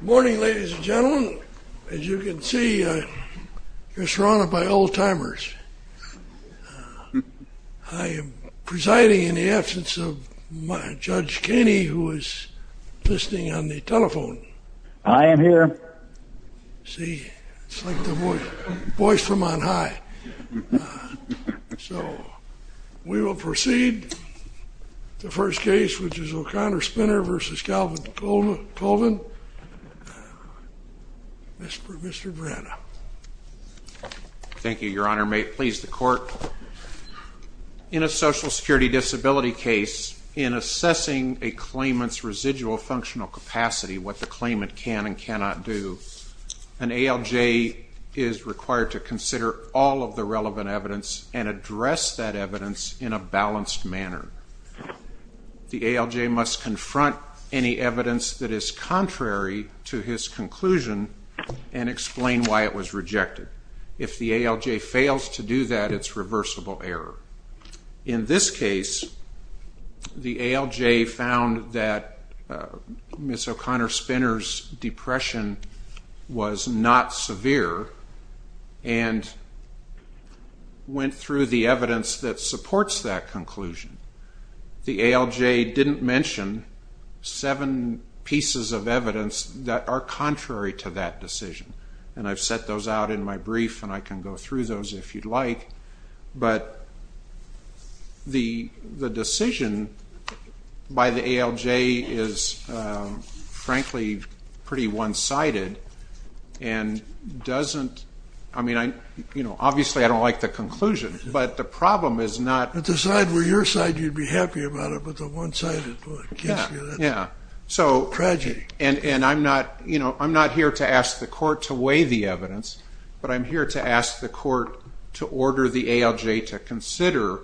Morning, ladies and gentlemen. As you can see, we're surrounded by old-timers. I am presiding in the absence of Judge Kenney, who is listening on the telephone. I am here. See? It's like the voice from on high. So, we will proceed. The first case, which is O'Connor-Spinner v. Calvin Colvin. Mr. Brenna. Thank you, Your Honor. May it please the Court. In a Social Security disability case, in assessing a claimant's residual functional capacity, what the claimant can and cannot do, an ALJ is required to consider all of the relevant evidence and address that evidence in a balanced manner. The ALJ must confront any evidence that is contrary to his conclusion and explain why it was rejected. If the ALJ fails to do that, it's reversible error. In this case, the ALJ found that Ms. O'Connor-Spinner's depression was not severe and went through the evidence that supports that conclusion. The ALJ didn't mention seven pieces of evidence that are contrary to that decision. And I've set those out in my brief, and I can go through those if you'd like. But the decision by the ALJ is, frankly, pretty one-sided and doesn't... I mean, obviously, I don't like the conclusion, but the problem is not... If it were your side, you'd be happy about it, but the one-sided, well, it gives you that tragedy. And I'm not here to ask the Court to weigh the evidence, but I'm here to ask the Court to order the ALJ to consider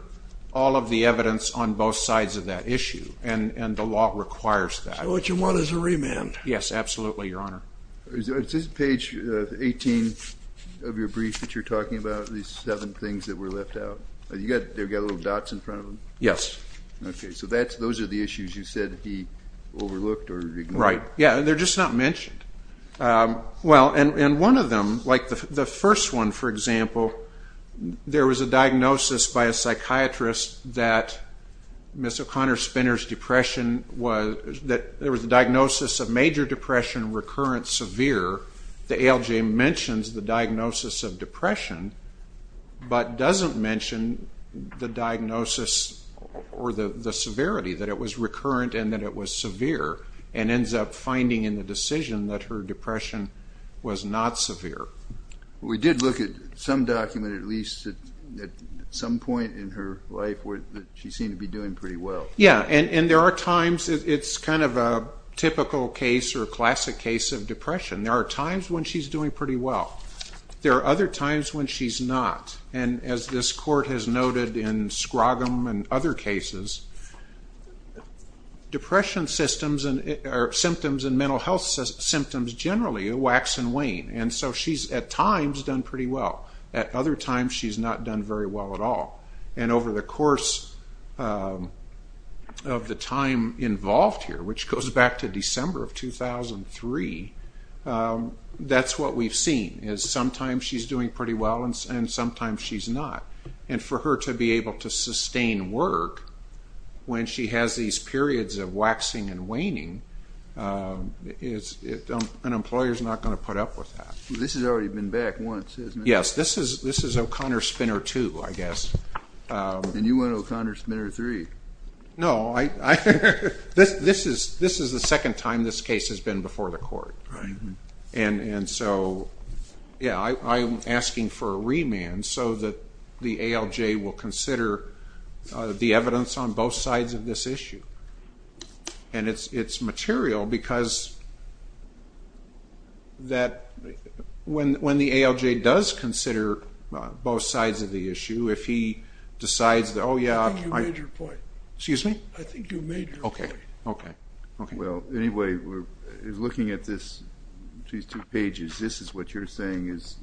all of the evidence on both sides of that issue. And the law requires that. So what you want is a remand. Yes, absolutely, Your Honor. Is this page 18 of your brief that you're talking about, these seven things that were left out? They've got little dots in front of them? Yes. Okay. So those are the issues you said he overlooked or ignored? Right. Yeah, they're just not mentioned. Well, in one of them, like the first one, for example, there was a diagnosis by a psychiatrist that Ms. O'Connor Spinner's depression was... that there was a diagnosis of major depression, recurrent, severe. The ALJ mentions the diagnosis of depression, but doesn't mention the diagnosis or the severity, that it was recurrent and that it was severe, and ends up finding in the decision that her depression was not severe. We did look at some document, at least at some point in her life, where she seemed to be doing pretty well. Yeah, and there are times it's kind of a typical case or classic case of depression. There are times when she's doing pretty well. There are other times when she's not. And as this court has noted in Scroggum and other cases, depression symptoms and mental health symptoms generally wax and wane. And so she's, at times, done pretty well. At other times, she's not done very well at all. And over the course of the time involved here, which goes back to December of 2003, that's what we've seen, is sometimes she's doing pretty well and sometimes she's not. And for her to be able to sustain work when she has these periods of waxing and waning, an employer's not going to put up with that. This has already been back once, hasn't it? Yes, this is O'Connor Spinner 2, I guess. And you went to O'Connor Spinner 3. No, this is the second time this case has been before the court. And so, yeah, I'm asking for a remand so that the ALJ will consider the evidence on both sides of this issue. And it's material because when the ALJ does consider both sides of the issue, if he decides that, oh, yeah. I think you made your point. Excuse me? I think you made your point. Okay, okay. Well, anyway, looking at these two pages, this is what you're saying is,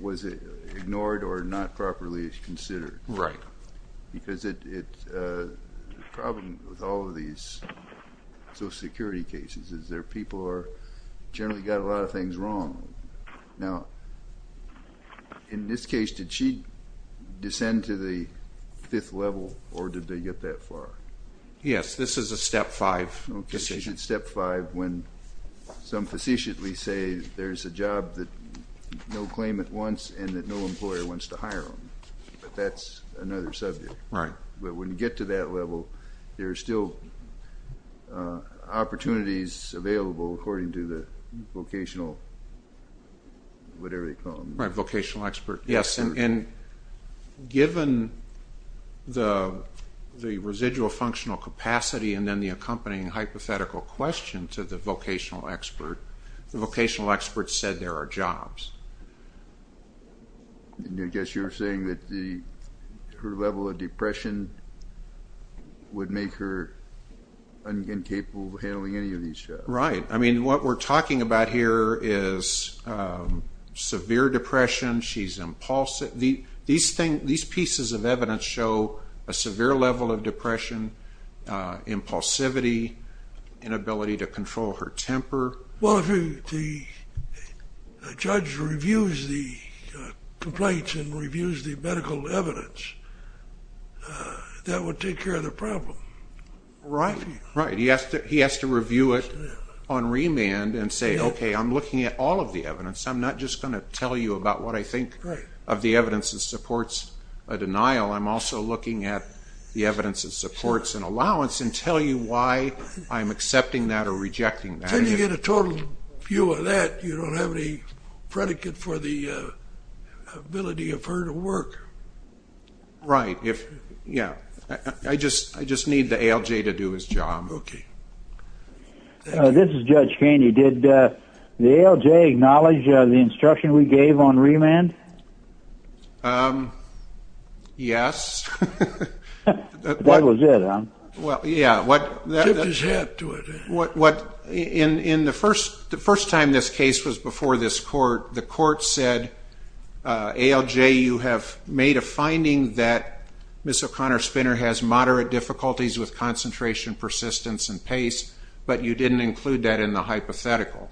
was it ignored or not properly considered? Right. Because the problem with all of these Social Security cases is there are people who are generally got a lot of things wrong. Now, in this case, did she descend to the fifth level or did they get that far? Yes, this is a step five decision. Okay, she did step five when some facetiously say there's a job that no claimant wants and that no employer wants to hire them. But that's another subject. Right. But when you get to that level, there are still opportunities available according to the vocational, whatever you call them. Right, vocational expert. Yes. And given the residual functional capacity and then the accompanying hypothetical question to the vocational expert, the vocational expert said there are jobs. I guess you're saying that her level of depression would make her incapable of handling any of these jobs. Right. I mean, what we're talking about here is severe depression. She's impulsive. These pieces of evidence show a severe level of depression, impulsivity, inability to control her temper. Well, if the judge reviews the complaints and reviews the medical evidence, that would take care of the problem. Right, right. He has to review it on remand and say, okay, I'm looking at all of the evidence. I'm not just going to tell you about what I think of the evidence that supports a denial. I'm also looking at the evidence that supports an allowance and tell you why I'm accepting that or rejecting that. Until you get a total view of that, you don't have any predicate for the ability of her to work. Right. Yeah. Okay. This is Judge Kainey. Did the ALJ acknowledge the instruction we gave on remand? Yes. That was it, huh? Yeah. Tipped his hat to it. In the first time this case was before this court, the court said, ALJ, you have made a finding that Ms. O'Connor Spinner has moderate difficulties with concentration, persistence, and pace, but you didn't include that in the hypothetical.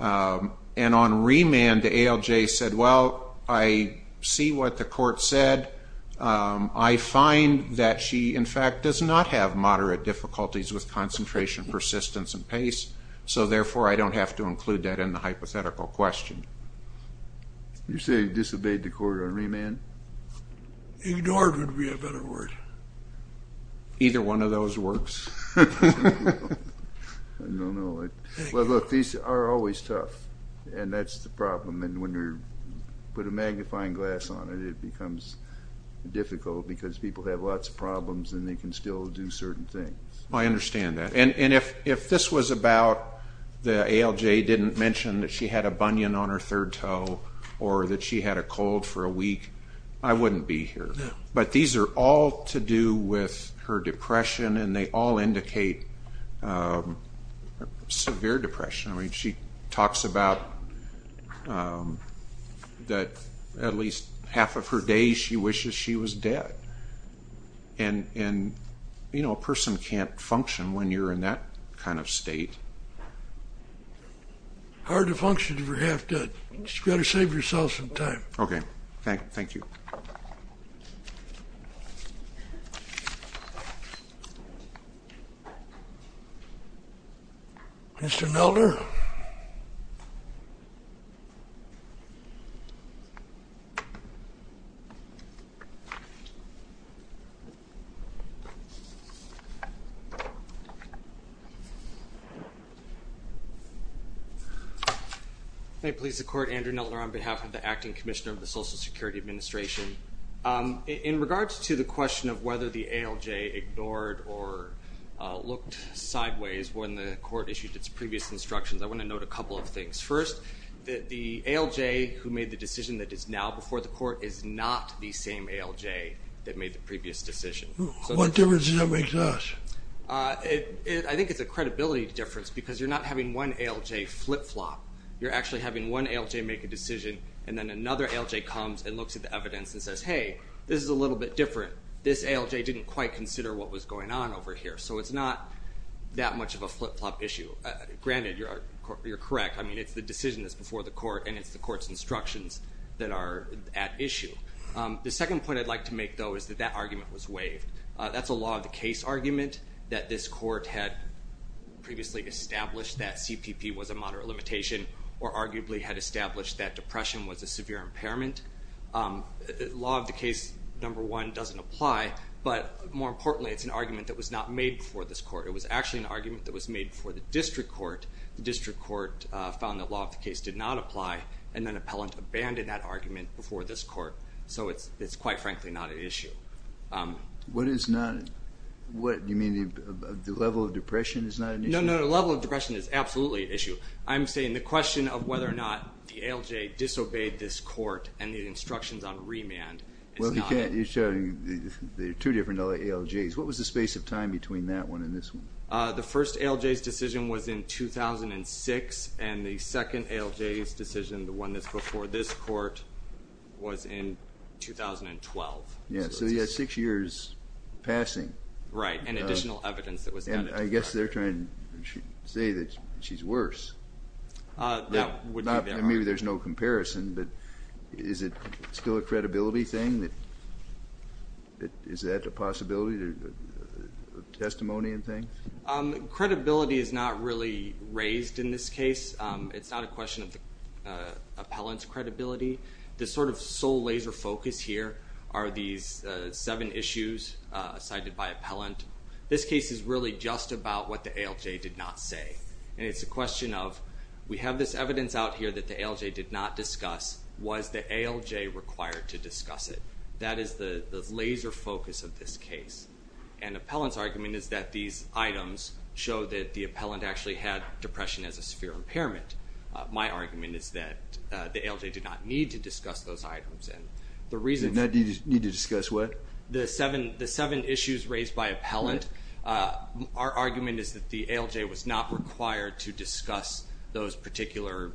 And on remand, the ALJ said, well, I see what the court said. I find that she, in fact, does not have moderate difficulties with concentration, persistence, and pace, so therefore I don't have to include that in the hypothetical question. You're saying disobeyed the court on remand? Ignored would be a better word. Either one of those works. No, no. Well, look, these are always tough, and that's the problem, and when you put a magnifying glass on it, it becomes difficult because people have lots of problems and they can still do certain things. I understand that. And if this was about the ALJ didn't mention that she had a bunion on her third toe or that she had a cold for a week, I wouldn't be here. But these are all to do with her depression, and they all indicate severe depression. She talks about that at least half of her day she wishes she was dead. And, you know, a person can't function when you're in that kind of state. Hard to function if you're half dead. You've got to save yourself some time. Okay. Thank you. Thank you. Mr. Nelder? Andrew Nelder on behalf of the Acting Commissioner of the Social Security Administration. In regards to the question of whether the ALJ ignored or looked sideways when the court issued its previous instructions, I want to note a couple of things. First, the ALJ who made the decision that is now before the court is not the same ALJ that made the previous decision. What difference does that make to us? I think it's a credibility difference because you're not having one ALJ flip-flop. You're actually having one ALJ make a decision, and then another ALJ comes and looks at the evidence and says, hey, this is a little bit different. This ALJ didn't quite consider what was going on over here. So it's not that much of a flip-flop issue. Granted, you're correct. I mean, it's the decision that's before the court, and it's the court's instructions that are at issue. The second point I'd like to make, though, is that that argument was waived. That's a law of the case argument that this court had previously established that CPP was a moderate limitation or arguably had established that depression was a severe impairment. Law of the case, number one, doesn't apply. But more importantly, it's an argument that was not made before this court. It was actually an argument that was made before the district court. The district court found that law of the case did not apply, and then an appellant abandoned that argument before this court. So it's quite frankly not at issue. Do you mean the level of depression is not at issue? No, no, the level of depression is absolutely at issue. I'm saying the question of whether or not the ALJ disobeyed this court and the instructions on remand is not at issue. Well, you can't. There are two different ALJs. What was the space of time between that one and this one? The first ALJ's decision was in 2006, and the second ALJ's decision, the one that's before this court, was in 2012. Right, and additional evidence that was added. And I guess they're trying to say that she's worse. That would be their argument. Maybe there's no comparison, but is it still a credibility thing? Is that a possibility, a testimony and thing? Credibility is not really raised in this case. It's not a question of appellant's credibility. The sort of sole laser focus here are these seven issues cited by appellant. This case is really just about what the ALJ did not say. And it's a question of we have this evidence out here that the ALJ did not discuss. Was the ALJ required to discuss it? That is the laser focus of this case. And appellant's argument is that these items show that the appellant actually had depression as a severe impairment. My argument is that the ALJ did not need to discuss those items. And the reason for that is the seven issues raised by appellant are argument is that the ALJ was not required to discuss those particular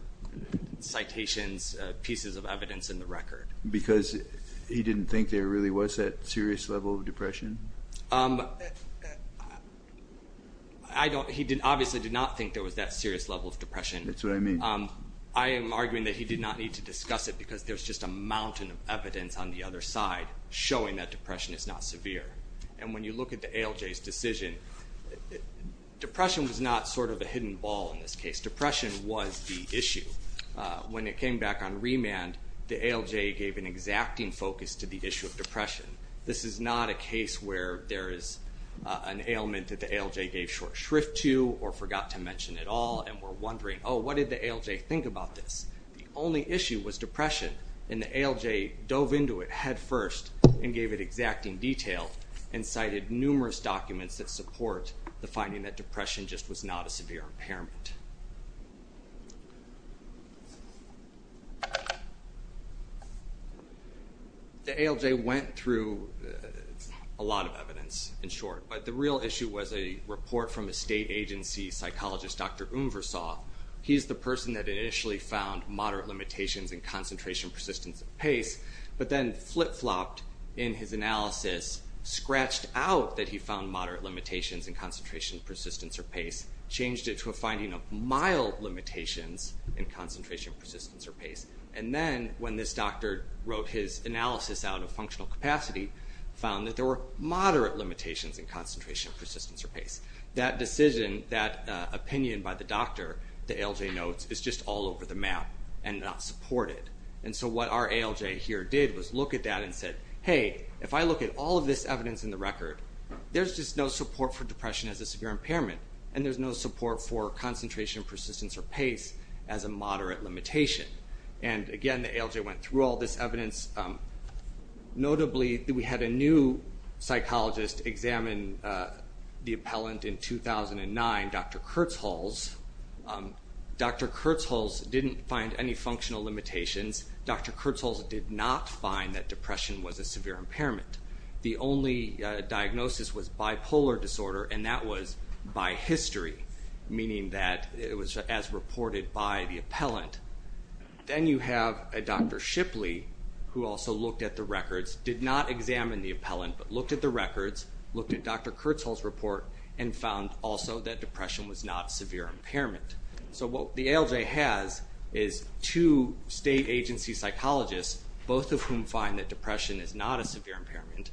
citations, pieces of evidence in the record. Because he didn't think there really was that serious level of depression? He obviously did not think there was that serious level of depression. That's what I mean. I am arguing that he did not need to discuss it because there's just a mountain of evidence on the other side showing that depression is not severe. And when you look at the ALJ's decision, depression was not sort of a hidden ball in this case. Depression was the issue. When it came back on remand, the ALJ gave an exacting focus to the issue of depression. This is not a case where there is an ailment that the ALJ gave short shrift to or forgot to mention at all and we're wondering, oh, what did the ALJ think about this? The only issue was depression, and the ALJ dove into it headfirst and gave it exacting detail and cited numerous documents that support the finding that depression just was not a severe impairment. The ALJ went through a lot of evidence, in short, but the real issue was a report from a state agency psychologist, Dr. Umversoth. He's the person that initially found moderate limitations in concentration, persistence, and pace, but then flip-flopped in his analysis, scratched out that he found moderate limitations in concentration, persistence, or pace, changed it to a finding of mild limitations in concentration, persistence, or pace. And then when this doctor wrote his analysis out of functional capacity, found that there were moderate limitations in concentration, persistence, or pace. That decision, that opinion by the doctor, the ALJ notes, is just all over the map and not supported. And so what our ALJ here did was look at that and said, hey, if I look at all of this evidence in the record, there's just no support for depression as a severe impairment, and there's no support for concentration, persistence, or pace as a moderate limitation. And again, the ALJ went through all this evidence. Notably, we had a new psychologist examine the appellant in 2009, Dr. Kurtzholz. Dr. Kurtzholz didn't find any functional limitations. Dr. Kurtzholz did not find that depression was a severe impairment. The only diagnosis was bipolar disorder, and that was by history, meaning that it was as reported by the appellant. Then you have Dr. Shipley, who also looked at the records, did not examine the appellant, but looked at the records, looked at Dr. Kurtzholz's report, and found also that depression was not a severe impairment. So what the ALJ has is two state agency psychologists, both of whom find that depression is not a severe impairment,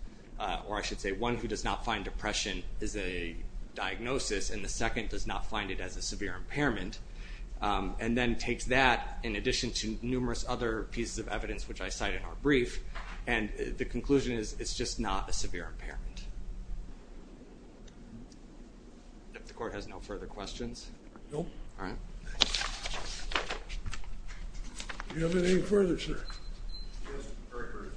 or I should say one who does not find depression is a diagnosis and the second does not find it as a severe impairment, and then takes that in addition to numerous other pieces of evidence, which I cite in our brief, and the conclusion is it's just not a severe impairment. If the court has no further questions. No. All right. Do you have anything further, sir? Yes, very briefly.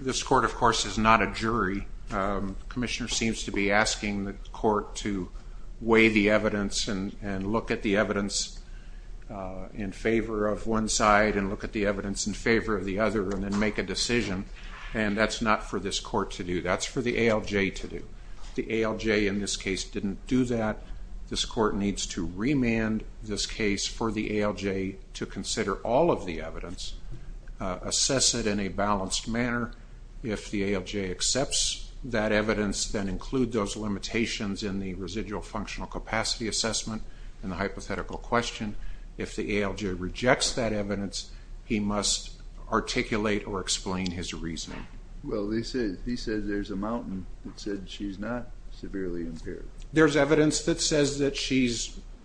This court, of course, is not a jury. The commissioner seems to be asking the court to weigh the evidence and look at the evidence in favor of one side and look at the evidence in favor of the other and then make a decision, and that's not for this court to do. That's for the ALJ to do. The ALJ in this case didn't do that. This court needs to remand this case for the ALJ to consider all of the evidence, assess it in a balanced manner. If the ALJ accepts that evidence, then include those limitations in the residual functional capacity assessment and the hypothetical question. If the ALJ rejects that evidence, he must articulate or explain his reasoning. Well, he says there's a mountain that said she's not severely impaired. There's evidence that says that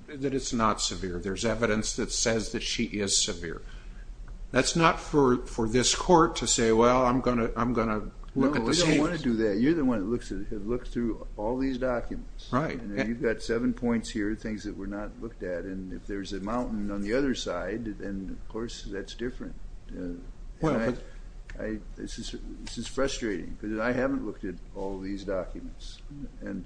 it's not severe. There's evidence that says that she is severe. That's not for this court to say, well, I'm going to look at the scales. No, we don't want to do that. You're the one that looks through all these documents. You've got seven points here, things that were not looked at, and if there's a mountain on the other side, then, of course, that's different. This is frustrating because I haven't looked at all these documents and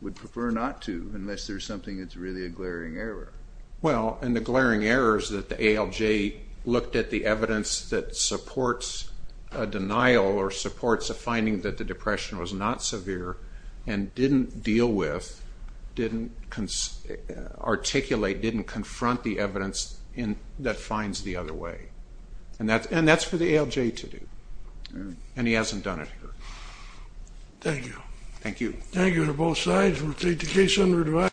would prefer not to unless there's something that's really a glaring error. Well, and the glaring error is that the ALJ looked at the evidence that supports a denial or supports a finding that the depression was not severe and didn't deal with, didn't articulate, didn't confront the evidence that finds the other way. And that's for the ALJ to do, and he hasn't done it here. Thank you. Thank you. Thank you to both sides. We'll take the case under review.